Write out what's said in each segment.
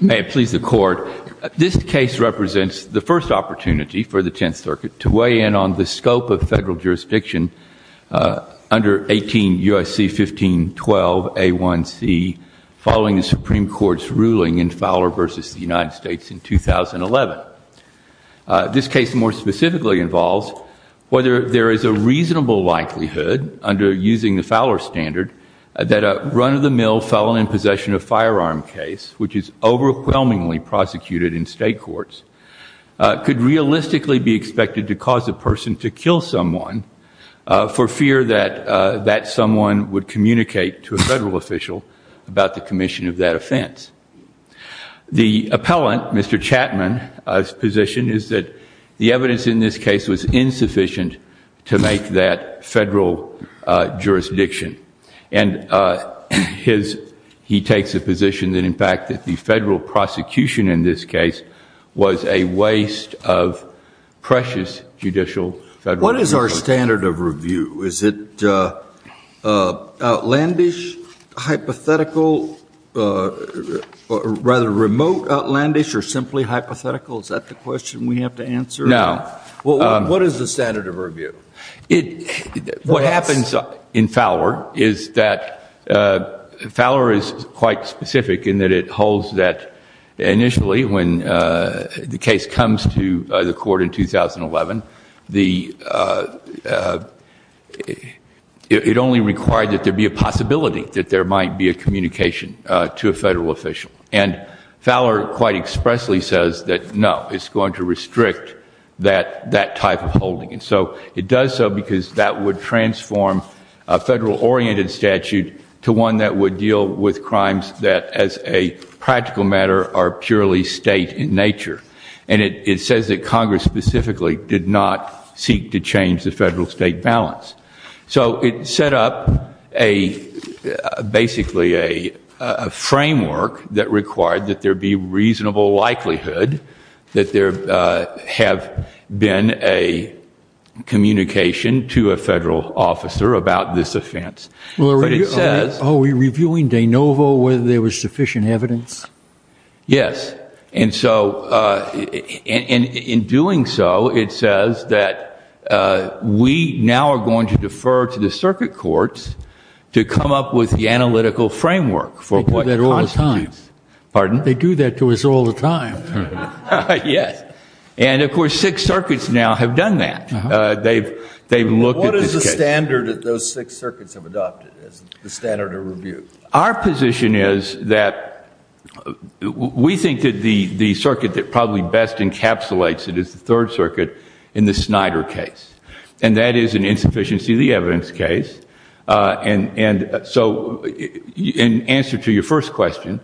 May it please the Court, this case represents the first opportunity for the Tenth Circuit to weigh in on the scope of federal jurisdiction under 18 U.S.C. 1512A1C following the Supreme Court's ruling in Fowler v. the United States in 2011. This case more specifically involves whether there is a reasonable likelihood under using the Fowler standard that a run-of-the-mill felon in possession of firearm case, which is overwhelmingly prosecuted in state courts, could realistically be expected to cause a person to kill someone for fear that that someone would communicate to a federal official about the commission of that offense. The appellant, Mr. Chatman, his position is that the evidence in this case was insufficient to make that federal jurisdiction and he takes a position that in fact that the federal prosecution in this case a waste of precious judicial federal jurisdiction. What is our standard of review? Is it outlandish, hypothetical, rather remote outlandish or simply hypothetical? Is that the question we have to answer? No. What is the standard of review? What happens in Fowler is that Fowler is quite initially when the case comes to the court in 2011, it only required that there be a possibility that there might be a communication to a federal official. And Fowler quite expressly says that no, it's going to restrict that type of holding. And so it does so because that would transform a federal oriented statute to one that would deal with crimes that as a practical matter are purely state in nature. And it says that Congress specifically did not seek to change the federal state balance. So it set up a basically a framework that required that there be reasonable likelihood that there have been a communication to a federal officer about this offense. But it says. Are we reviewing de novo whether there was sufficient evidence? Yes. And so in doing so, it says that we now are going to defer to the circuit courts to come up with the analytical framework for what constitutes. They do that all the time. Pardon? They do that to us all the time. Yes. And of course, six circuits now have done that. They've they've looked at the standard that those six circuits have adopted as the standard of review. Our position is that we think that the circuit that probably best encapsulates it is the third circuit in the Snyder case. And that is an insufficiency of the evidence case. And so in answer to your first question,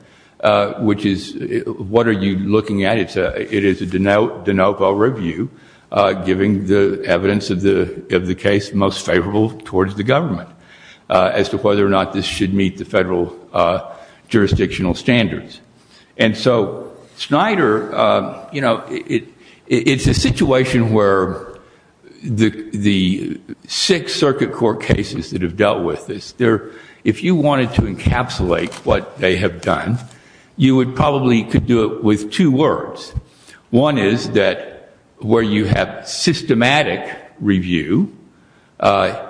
which is, what are you looking at? It is a de novo review giving the evidence of the of the case most favorable towards the government as to whether or not this should meet the federal jurisdictional standards. And so Snyder, you know, it's a situation where the the six circuit court cases that have dealt with this if you wanted to encapsulate what they have done, you would probably could do it with two words. One is that where you have systematic review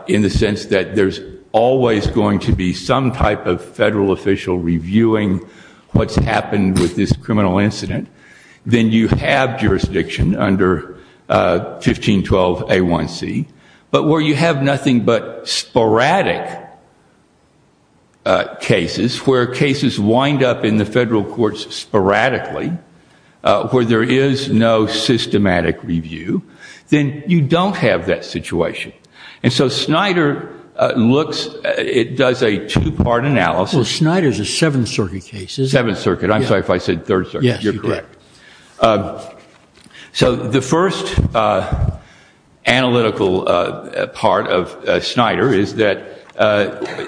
in the sense that there's always going to be some type of federal official reviewing what's happened with this criminal incident, then you have jurisdiction under 1512 A1C. But where you have nothing but sporadic cases, where cases wind up in the federal courts sporadically, where there is no systematic review, then you don't have that situation. And so Snyder looks it does a two part analysis. Snyder is a seventh circuit case. Seventh circuit. I'm sorry if I said third. Yes, you're correct. So the first analytical part of Snyder is that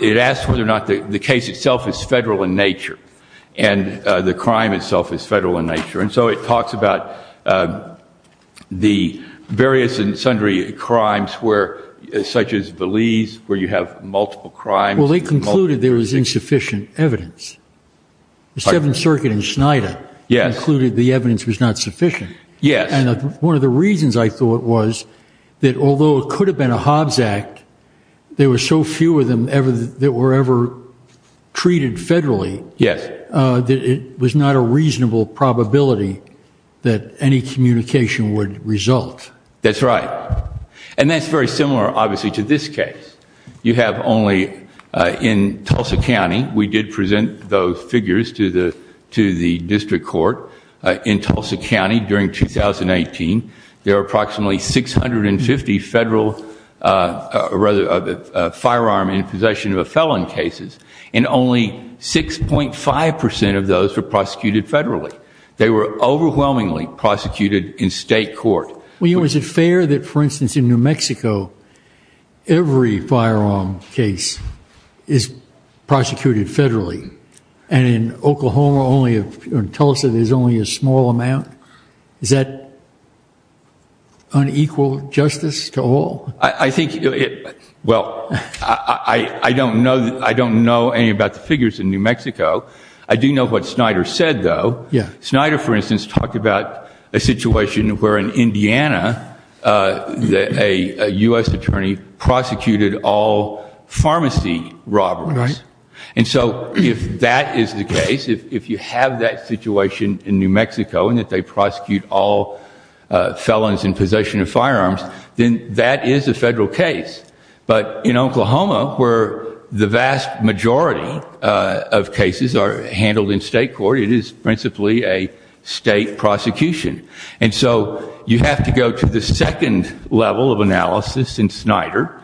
it asks whether or not the case itself is federal in nature. And the crime itself is federal in nature. And so it talks about the various and sundry crimes where such as Valise, where you have multiple crimes. Well, they concluded there was insufficient evidence. The Seventh Circuit in Snyder concluded the evidence was not sufficient. Yes. And one of the reasons I thought was that although it could have been a Hobbs Act, there were so few of them ever that were ever treated federally. Yes. That it was not a reasonable probability that any communication would result. That's right. And that's very similar, obviously, to this case. You have only in Tulsa County. We did present those figures to the to the district court in Tulsa County during 2018. There are approximately 650 federal firearm in possession of a felon cases and only 6.5 percent of those were prosecuted federally. They were overwhelmingly prosecuted in state court. Well, was it fair that, for instance, in New Mexico, every firearm case is prosecuted federally and in Oklahoma only in Tulsa, there's only a small amount. Is that unequal justice to all? I think. Well, I don't know. I don't know any about the figures in New Mexico. I do know what Snyder said, though. Yeah. Snyder, for instance, talked about a situation where in Indiana, a U.S. attorney prosecuted all pharmacy robberies. And so if that is the case, if you have that situation in New Mexico and that they prosecute all felons in possession of firearms, then that is a federal case. But in Oklahoma, where the vast majority of cases are handled in state court, it is principally a state prosecution. And so you have to go to the second level of analysis in Snyder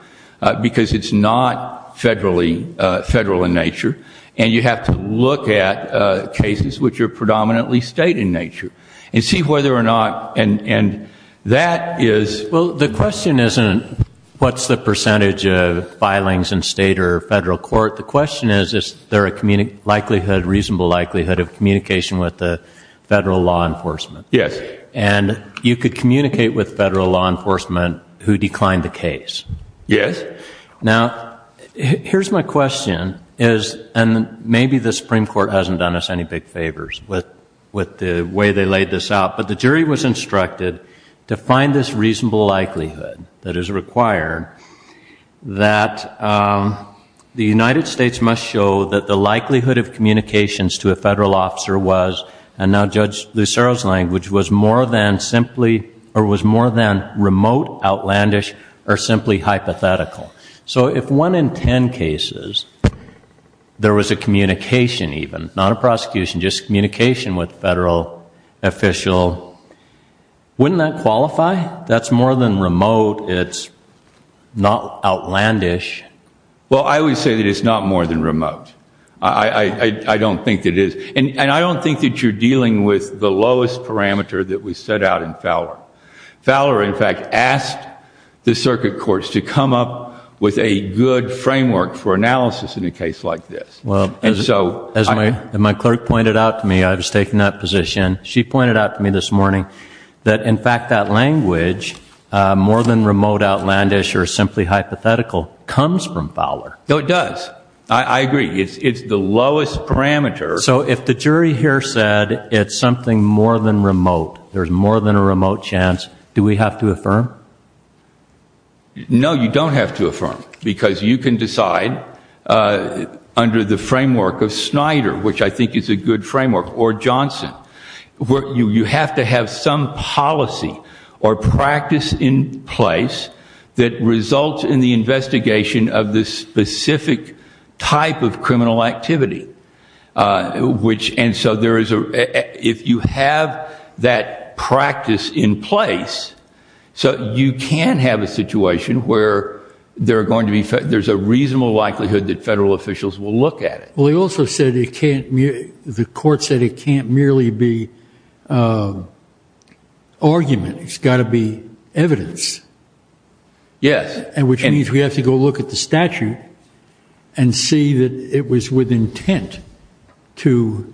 because it's not federally, federal in nature. And you have to look at cases which are predominantly state in nature and see whether or not and that is. Well, the question isn't what's the percentage of filings in state or federal court? The question is, is there a community likelihood, reasonable likelihood of communication with the federal law enforcement? Yes. And you could communicate with federal law enforcement who declined the case. Yes. Now, here's my question is and maybe the Supreme Court hasn't done us any big favors with with the way they laid this out. But the jury was instructed to find this reasonable likelihood that is required, that the United States must show that the likelihood of communications to a federal officer was, and now Judge Lucero's language, was more than simply or was more than remote, outlandish or simply hypothetical. So if one in 10 cases, there was a communication, even not a prosecution, just communication with federal official, wouldn't that qualify? That's more than remote. It's not outlandish. Well, I would say that it's not more than remote. I don't think it is. And I don't think that you're dealing with the lowest parameter that we set out in Fowler. Fowler, in fact, asked the circuit courts to come up with a good framework for analysis in a case like this. Well, as my clerk pointed out to me, I was taking that position. She pointed out to me this morning that, in fact, that language, more than remote, outlandish or simply hypothetical, comes from Fowler. No, it does. I agree. It's the lowest parameter. So if the jury here said it's something more than remote, there's more than a remote chance, do we have to affirm? No, you don't have to affirm, because you can decide under the framework of Snyder, which I think is a good framework, or Johnson. You have to have some policy or practice in place that results in the investigation of this specific type of criminal activity. And so if you have that practice in place, you can have a situation where there's a reasonable likelihood that federal officials will look at it. Well, he also said the court said it can't merely be argument. It's got to be evidence. Yes. And which means we have to go look at the statute and see that it was with intent to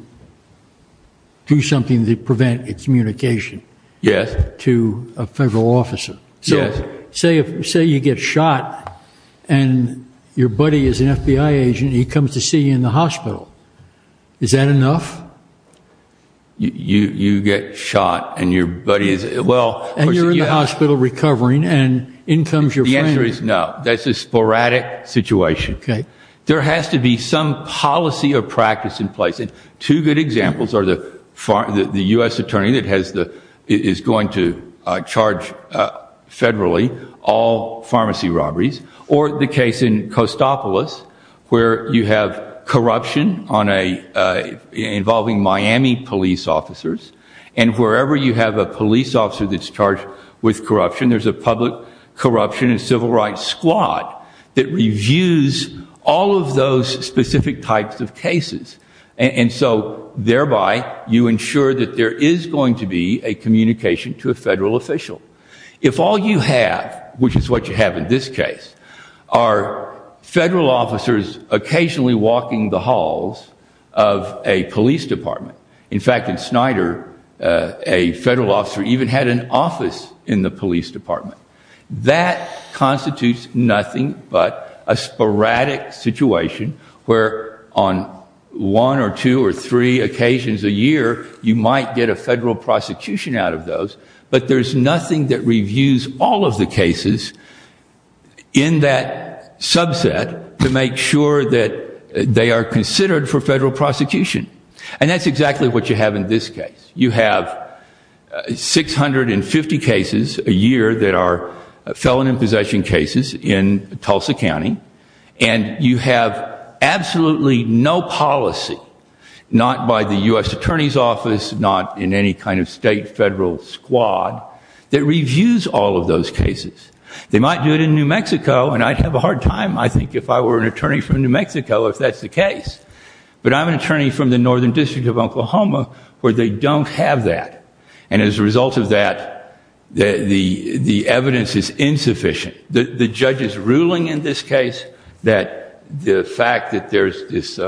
do something to prevent a communication to a federal officer. So say you get shot and your buddy is an FBI agent. He comes to see you in the hospital. Is that enough? You get shot and your buddy is... And you're in the hospital recovering and in comes your friend. The answer is no. That's a sporadic situation. Okay. There has to be some policy or practice in place. And two good examples are the U.S. attorney that is going to charge federally all pharmacy robberies, or the case in Costopolis where you have corruption involving Miami police officers. And wherever you have a police officer that's charged with corruption, there's a public corruption and civil rights squad that reviews all of those specific types of cases. And so thereby, you ensure that there is going to be a communication to a federal official. If all you have, which is what you have in this case, are federal officers occasionally walking the halls of a police department. In fact, in Snyder, a federal officer even had an office in the police department. That constitutes nothing but a sporadic situation where on one or two or three occasions a year, you might get a federal prosecution out of those. But there's nothing that reviews all of the cases in that subset to make sure that they are considered for federal prosecution. And that's exactly what you have in this case. You have 650 cases a year that are felon in possession cases in Tulsa County. And you have absolutely no policy, not by the U.S. Attorney's Office, not in any kind of state federal squad, that reviews all of those cases. They might do it in New Mexico, and I'd have a hard time, I think, if I were an attorney from New Mexico if that's the case. But I'm an attorney from the Northern District of Oklahoma where they don't have that. And as a result of that, the evidence is insufficient. The judge's ruling in this case, that the fact that there's this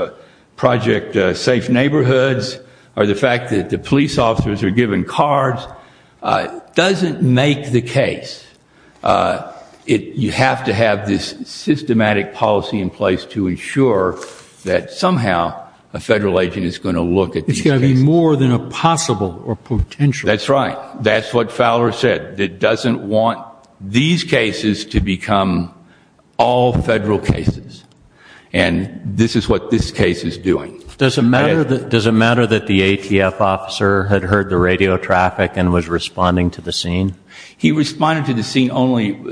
Project Safe Neighborhoods, or the fact that the police officers are given cards, doesn't make the case. You have to have this systematic policy in place to ensure that somehow a federal agent is going to look at these cases. It's going to be more than a possible or potential. That's right. That's what Fowler said, that doesn't want these cases to become all federal cases. And this is what this case is doing. Does it matter that the ATF officer had heard the radio traffic and was responding to the scene? He responded to the scene only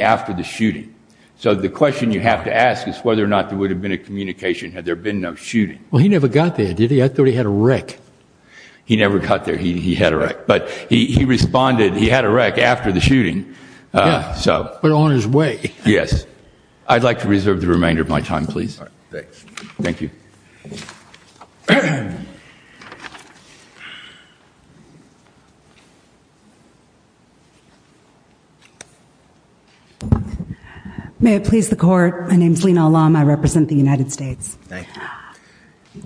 after the shooting. So the question you have to ask is whether or not there would have been a communication had there been no shooting. Well, he never got there, did he? I thought he had a wreck. He never got there. He had a wreck, but he responded. He had a wreck after the shooting. So we're on his way. Yes. I'd like to reserve the remainder of my time, please. Thank you. May it please the court. My name's Lena Alam. I represent the United States. Thank you.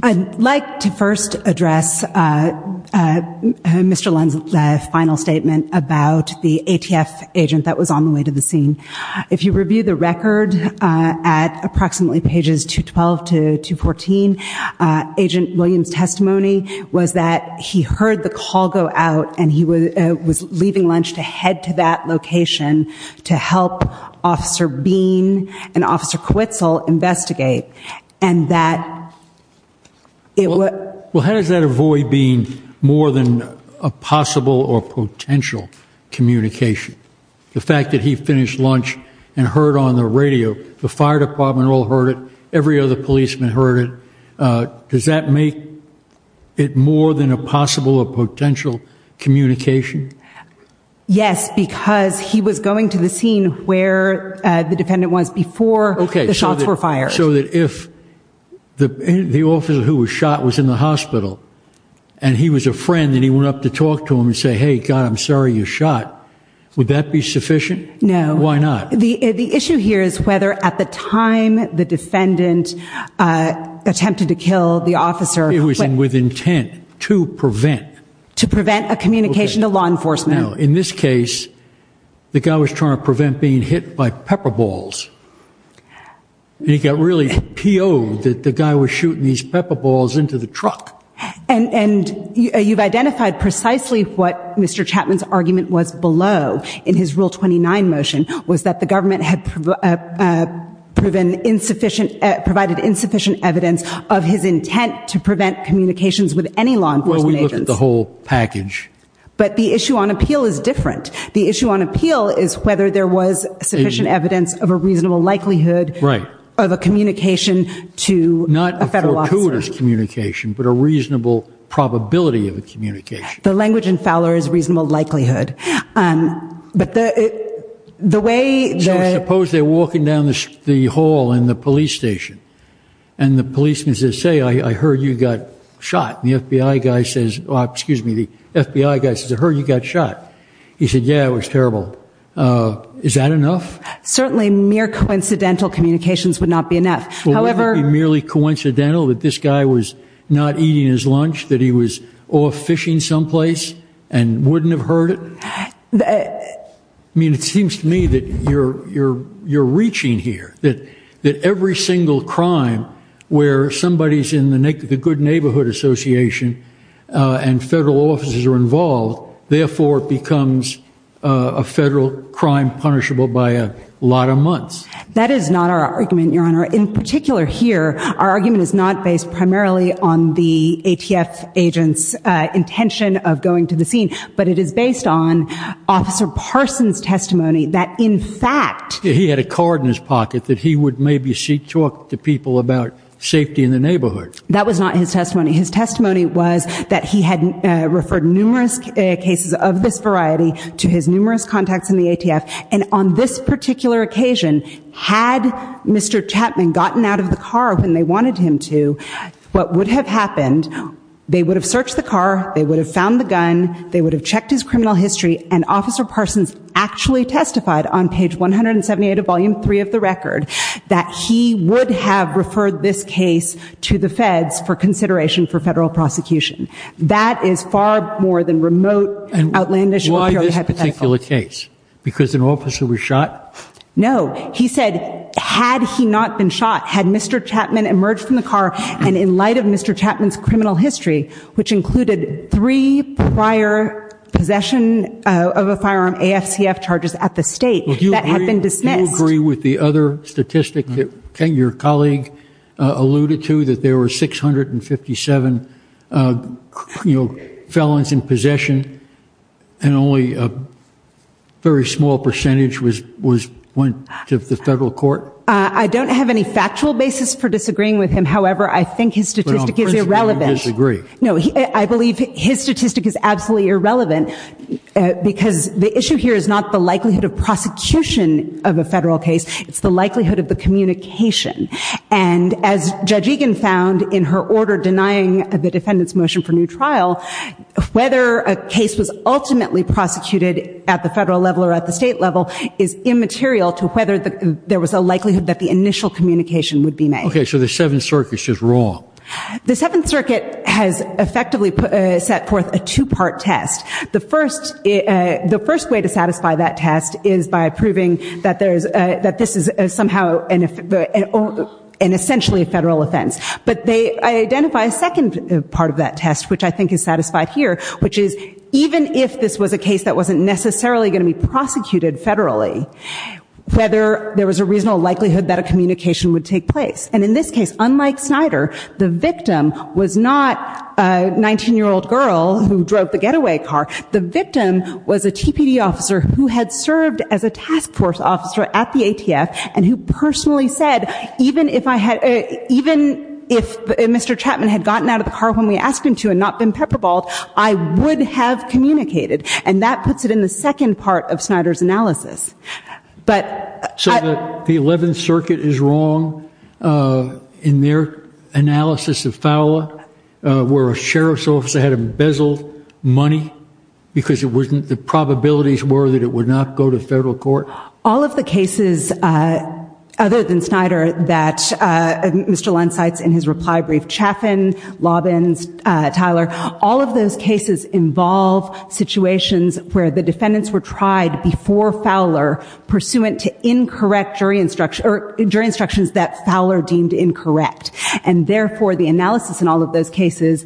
I'd like to first address Mr. Lund's final statement about the ATF agent that was on the way to the scene. If you review the record at approximately pages 212 to 214, Agent Williams' testimony was that he heard the call go out and he was leaving lunch to head to that location to help Officer Bean and Officer Quitzel investigate. And that it was... Well, how does that avoid being more than a possible or potential communication? The fact that he finished lunch and heard on the radio, the fire department all heard it. Every other policeman heard it. Does that make it more than a possible or potential communication? Yes, because he was going to the scene where the defendant was before the shots were fired. So that if the officer who was shot was in the hospital and he was a friend and he went up to talk to him and say, hey, God, I'm sorry you shot, would that be sufficient? No. Why not? The issue here is whether at the time the defendant attempted to kill the officer... It was with intent to prevent. To prevent a communication to law enforcement. In this case, the guy was trying to prevent being hit by pepper balls. And he got really P.O'd that the guy was shooting these pepper balls into the truck. And you've identified precisely what Mr. Chapman's argument was below in his Rule 29 motion was that the government had provided insufficient evidence of his intent to prevent communications with any law enforcement agents. Well, we looked at the whole package. But the issue on appeal is different. The issue on appeal is whether there was sufficient evidence of a reasonable likelihood of a communication to a federal law enforcement. Not a fortuitous communication, but a reasonable probability of a communication. The language in Fowler is reasonable likelihood. But the way... Suppose they're walking down the hall in the police station and the policeman says, say, I heard you got shot. And the FBI guy says, excuse me, the FBI guy says, I heard you got shot. He said, yeah, it was terrible. Is that enough? Certainly mere coincidental communications would not be enough. However... Would it be merely coincidental that this guy was not eating his lunch? That he was off fishing someplace and wouldn't have heard it? I mean, it seems to me that you're reaching here, that every single crime where somebody's in the Good Neighborhood Association and federal officers are involved, therefore it becomes a federal crime punishable by a lot of months. That is not our argument, Your Honor. In particular here, our argument is not based primarily on the ATF agent's intention of going to the scene, but it is based on Officer Parson's testimony that, in fact... He had a card in his pocket that he would maybe talk to people about safety in the neighborhood. That was not his testimony. His testimony was that he had referred numerous cases of this variety to his numerous contacts in the ATF. And on this particular occasion, had Mr. Chapman gotten out of the car when they wanted him to, what would have happened, they would have searched the car, they would have found the gun, they would have checked his criminal history. And Officer Parsons actually testified on page 178 of volume three of the record that he would have referred this case to the feds for consideration for federal prosecution. That is far more than remote, outlandish... Because an officer was shot? No, he said, had he not been shot, had Mr. Chapman emerged from the car, and in light of Mr. Chapman's criminal history, which included three prior possession of a firearm, AFCF charges at the state, that have been dismissed. Do you agree with the other statistic that your colleague alluded to, that there were 657 felons in possession, and only a very small percentage went to the federal court? I don't have any factual basis for disagreeing with him, however, I think his statistic is irrelevant. But on principle, you disagree? No, I believe his statistic is absolutely irrelevant, because the issue here is not the likelihood of prosecution of a federal case, it's the likelihood of the communication. And as Judge Egan found in her order denying the defendant's motion for new trial, whether a case was ultimately prosecuted at the federal level or at the state level is immaterial to whether there was a likelihood that the initial communication would be made. Okay, so the Seventh Circuit is wrong? The Seventh Circuit has effectively set forth a two-part test. The first way to satisfy that test is by proving that this is somehow and essentially a federal offense. But they identify a second part of that test, which I think is satisfied here, which is even if this was a case that wasn't necessarily going to be prosecuted federally, whether there was a reasonable likelihood that a communication would take place. And in this case, unlike Snyder, the victim was not a 19-year-old girl who drove the getaway car. The victim was a TPD officer who had served as a task force officer at the ATF and who personally said, even if Mr. Chapman had gotten out of the car when we asked him to and not been pepperballed, I would have communicated, and that puts it in the second part of Snyder's analysis. So the Eleventh Circuit is wrong in their analysis of Fowler where a sheriff's officer had embezzled money because the probabilities were that it would not go to federal court? All of the cases other than Snyder that Mr. Lund cites in his reply brief, Chaffin, Lobbins, Tyler, all of those cases involve situations where the defendants were tried before Fowler pursuant to incorrect jury instructions that Fowler deemed incorrect. And therefore, the analysis in all of those cases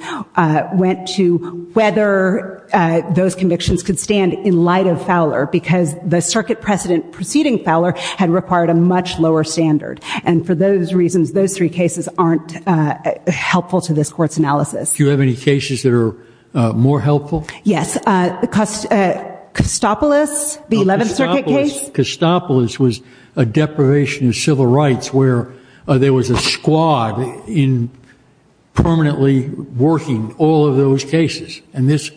went to whether those convictions could stand in light of Fowler because the circuit precedent preceding Fowler had required a much lower standard. And for those reasons, those three cases aren't helpful to this court's analysis. Do you have any cases that are more helpful? Yes. Costopolis, the Eleventh Circuit case. Costopolis was a deprivation of civil rights where there was a squad in permanently working all of those cases. And this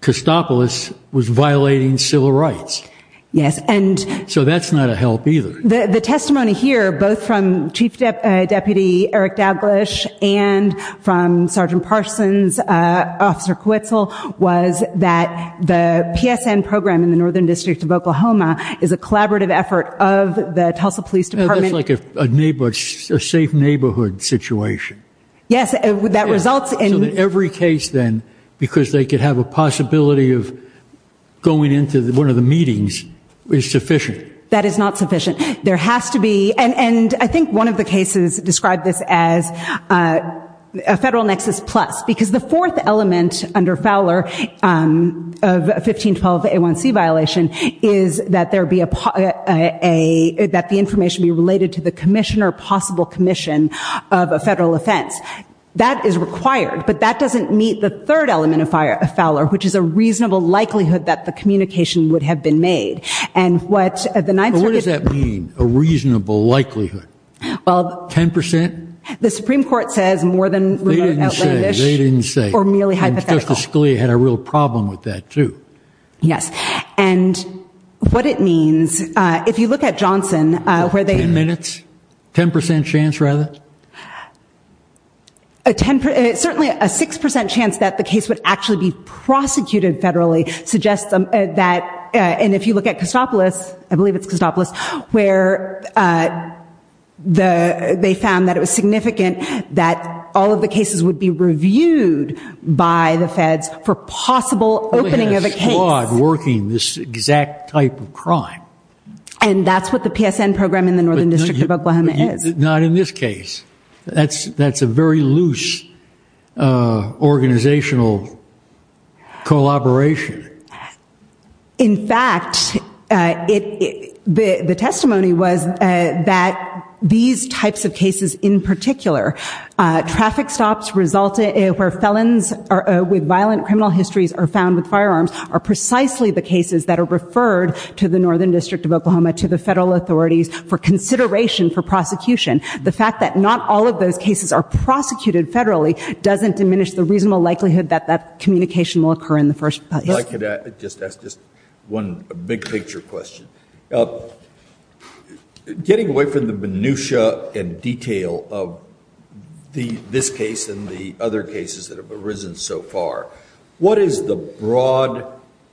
Costopolis was violating civil rights. Yes. And so that's not a help either. The testimony here, both from Chief Deputy Eric Dablish and from Sergeant Parsons, Officer Quetzel, was that the PSN program in the Northern District of Oklahoma is a collaborative effort of the Tulsa Police Department. That's like a safe neighborhood situation. Yes, that results in... So that every case then, because they could have a possibility of going into one of the meetings, is sufficient? That is not sufficient. There has to be, and I think one of the cases described this as a federal nexus plus, because the fourth element under Fowler of 1512A1C violation is that there be a, that the information be related to the commissioner, possible commission of a federal offense. That is required, but that doesn't meet the third element of Fowler, which is a reasonable likelihood that the communication would have been made. And what the Ninth Circuit... But what does that mean, a reasonable likelihood? 10%? The Supreme Court says more than... They didn't say. They didn't say. Or merely hypothetical. And Justice Scalia had a real problem with that too. Yes. And what it means, if you look at Johnson, where they... 10 minutes? 10% chance rather? A 10%, certainly a 6% chance that the case would actually be prosecuted federally, suggests that, and if you look at Custopolis, I believe it's Custopolis, where they found that it was significant that all of the cases would be reviewed by the feds for possible opening of a case. But it has flawed working, this exact type of crime. And that's what the PSN program in the Northern District of Oklahoma is. Not in this case. That's a very loose organizational collaboration. In fact, the testimony was that these types of cases in particular, traffic stops where felons with violent criminal histories are found with firearms, are precisely the cases that are referred to the Northern District of Oklahoma, to the federal authorities for consideration for prosecution. The fact that not all of those cases are prosecuted federally, doesn't diminish the reasonable likelihood that that communication will occur in the first place. I could just ask just one big picture question. Getting away from the minutia and detail of this case and the other cases that have arisen so far, what is the broad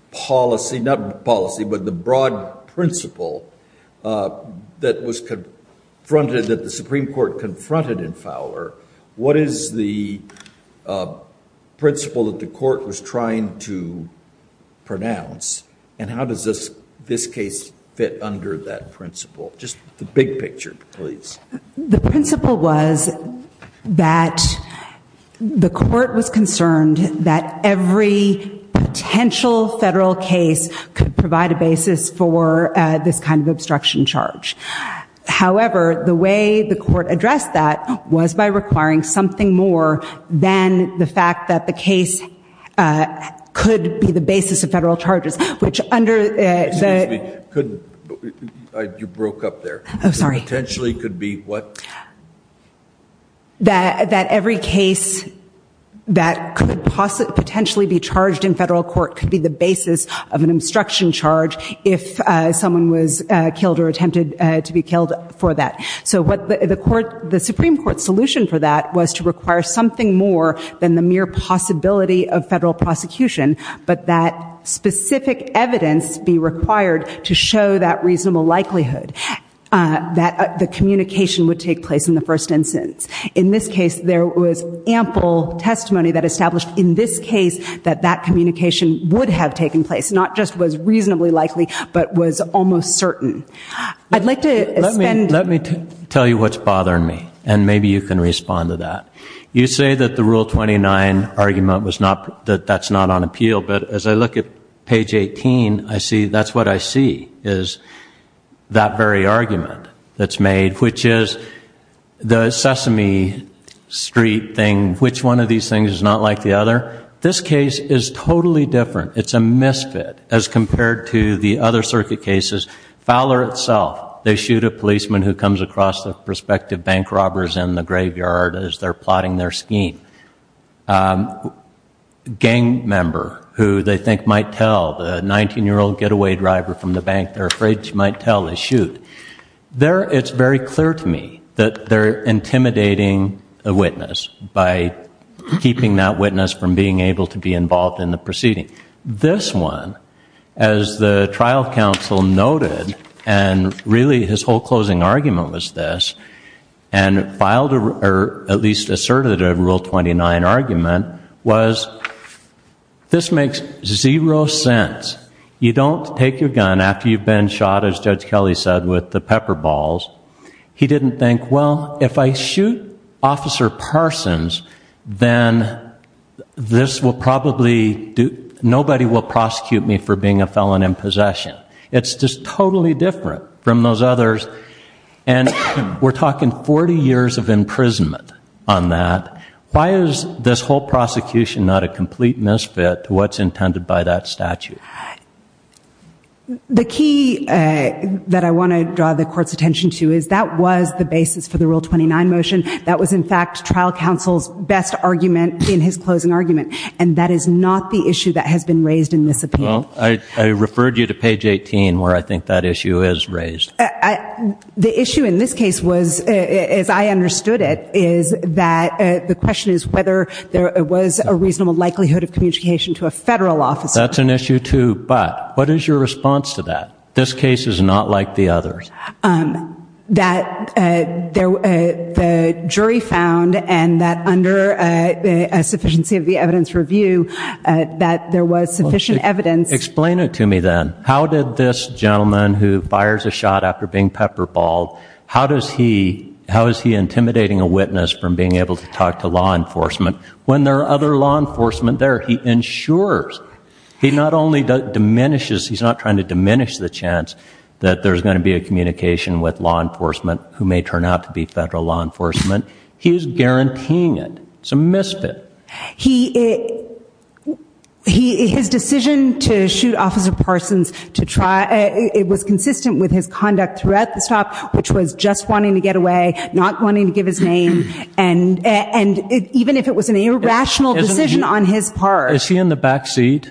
policy, not policy, but the broad principle that was confronted, that the Supreme Court confronted in Fowler? What is the principle that the court was trying to pronounce? And how does this case fit under that principle? Just the big picture, please. The principle was that the court was concerned that every potential federal case could provide a basis for this kind of obstruction charge. However, the way the court addressed that was by requiring something more than the fact that the case could be the basis of federal charges, which under... Excuse me. You broke up there. I'm sorry. Potentially could be what? That every case that could potentially be charged in federal court could be the basis of an obstruction charge if someone was killed or attempted to be killed for that. So the Supreme Court solution for that was to require something more than the mere possibility of federal prosecution, but that specific evidence be required to show that reasonable likelihood. That the communication would take place in the first instance. In this case, there was ample testimony that established, in this case, that that communication would have taken place, not just was reasonably likely, but was almost certain. I'd like to spend... Let me tell you what's bothering me, and maybe you can respond to that. You say that the Rule 29 argument was not... That that's not on appeal, but as I look at page 18, I see... Is that very argument that's made, which is the Sesame Street thing. Which one of these things is not like the other? This case is totally different. It's a misfit as compared to the other circuit cases. Fowler itself. They shoot a policeman who comes across the prospective bank robbers in the graveyard as they're plotting their scheme. Gang member who they think might tell the 19-year-old getaway driver from the bank. They're afraid she might tell they shoot. It's very clear to me that they're intimidating a witness by keeping that witness from being able to be involved in the proceeding. This one, as the trial counsel noted, and really his whole closing argument was this, and filed or at least asserted a Rule 29 argument, was this makes zero sense. You don't take your gun after you've been shot, as Judge Kelly said, with the pepper balls. He didn't think, well, if I shoot Officer Parsons, then this will probably do... Nobody will prosecute me for being a felon in possession. It's just totally different from those others. And we're talking 40 years of imprisonment on that. Why is this whole prosecution not a complete misfit to what's intended by that statute? The key that I want to draw the court's attention to is that was the basis for the Rule 29 motion. That was, in fact, trial counsel's best argument in his closing argument. And that is not the issue that has been raised in this opinion. Well, I referred you to page 18 where I think that issue is raised. The issue in this case was, as I understood it, is that the question is whether there was a reasonable likelihood of communication to a federal officer. That's an issue too. But what is your response to that? This case is not like the others. That the jury found, and that under a sufficiency of the evidence review, that there was sufficient evidence... Explain it to me then. How did this gentleman who fires a shot after being pepper balled, how is he intimidating a witness from being able to talk to law enforcement when there are other law enforcement there? He ensures, he not only diminishes, he's not trying to diminish the chance that there's going to be a communication with law enforcement who may turn out to be federal law enforcement. He's guaranteeing it. It's a misfit. His decision to shoot Officer Parsons, it was consistent with his conduct throughout the stop, which was just wanting to get away, not wanting to give his name. And even if it was an irrational decision on his part... Is he in the back seat?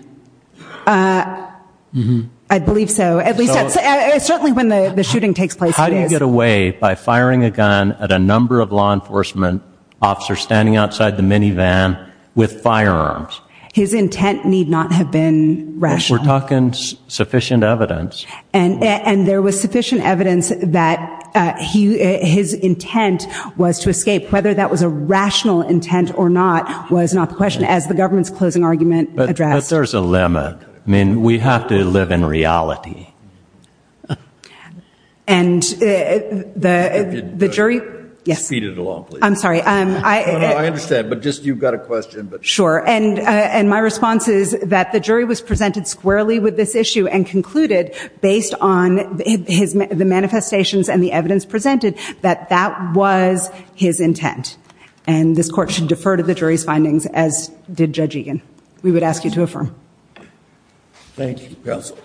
I believe so. At least that's certainly when the shooting takes place. How do you get away by firing a gun at a number of law enforcement officers standing outside the minivan with firearms? His intent need not have been rational. We're talking sufficient evidence. And there was sufficient evidence that his intent was to escape. Whether that was a rational intent or not was not the question, as the government's closing argument addressed. But there's a limit. I mean, we have to live in reality. And the jury... Could you speed it along, please? I'm sorry. I understand, but just you've got a question, but... Sure. And my response is that the jury was presented squarely with this issue and concluded, based on the manifestations and the evidence presented, that that was his intent. And this court should defer to the jury's findings, as did Judge Egan. We would ask you to affirm. Thank you, counsel.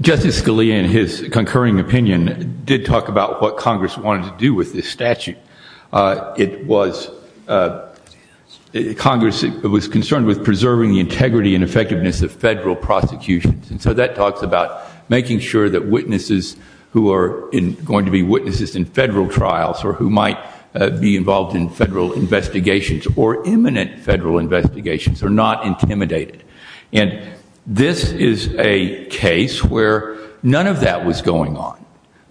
Justice Scalia, in his concurring opinion, did talk about what Congress wanted to do with this statute. It was... Congress was concerned with preserving the integrity and effectiveness of federal prosecutions. And so that talks about making sure that witnesses who are going to be witnesses in federal trials or who might be involved in federal investigations or imminent federal investigations are not intimidated. And this is a case where none of that was going on.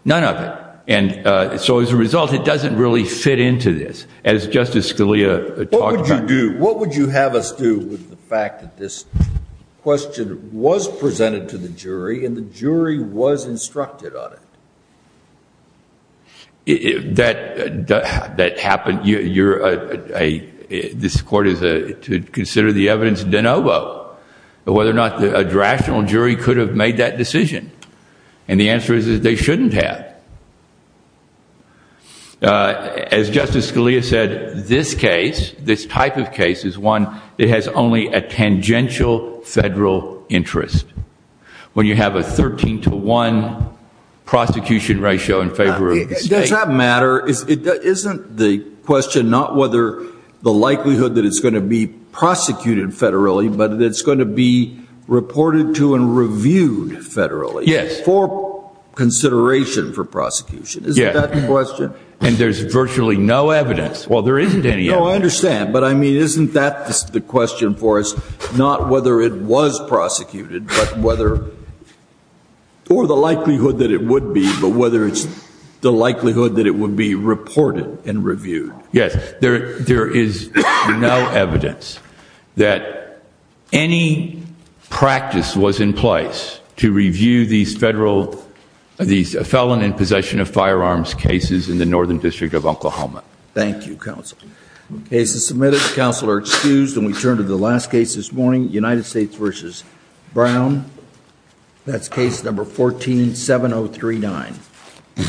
None of it. And so as a result, it doesn't really fit into this. As Justice Scalia talked about... What would you do? What would you have us do with the fact that this question was presented to the jury and the jury was instructed on it? That happened... This court is to consider the evidence de novo, whether or not a rational jury could have made that decision. And the answer is they shouldn't have. As Justice Scalia said, this case, this type of case, is one that has only a tangential federal interest. When you have a 13 to 1 prosecution ratio in favor of the state... Does that matter? Isn't the question not whether the likelihood that it's going to be prosecuted federally, but that it's going to be reported to and reviewed federally... Yes. For consideration for prosecution. Isn't that the question? And there's virtually no evidence. Well, there isn't any evidence. No, I understand. But I mean, isn't that the question for us? Not whether it was prosecuted, but whether... Or the likelihood that it would be, but whether it's the likelihood that it would be reported and reviewed. Yes, there is no evidence that any practice was in place to review these felon in possession of firearms cases in the Northern District of Oklahoma. Thank you, Counsel. Case is submitted. Counsel are excused. And we turn to the last case this morning, United States v. Brown. That's case number 147039.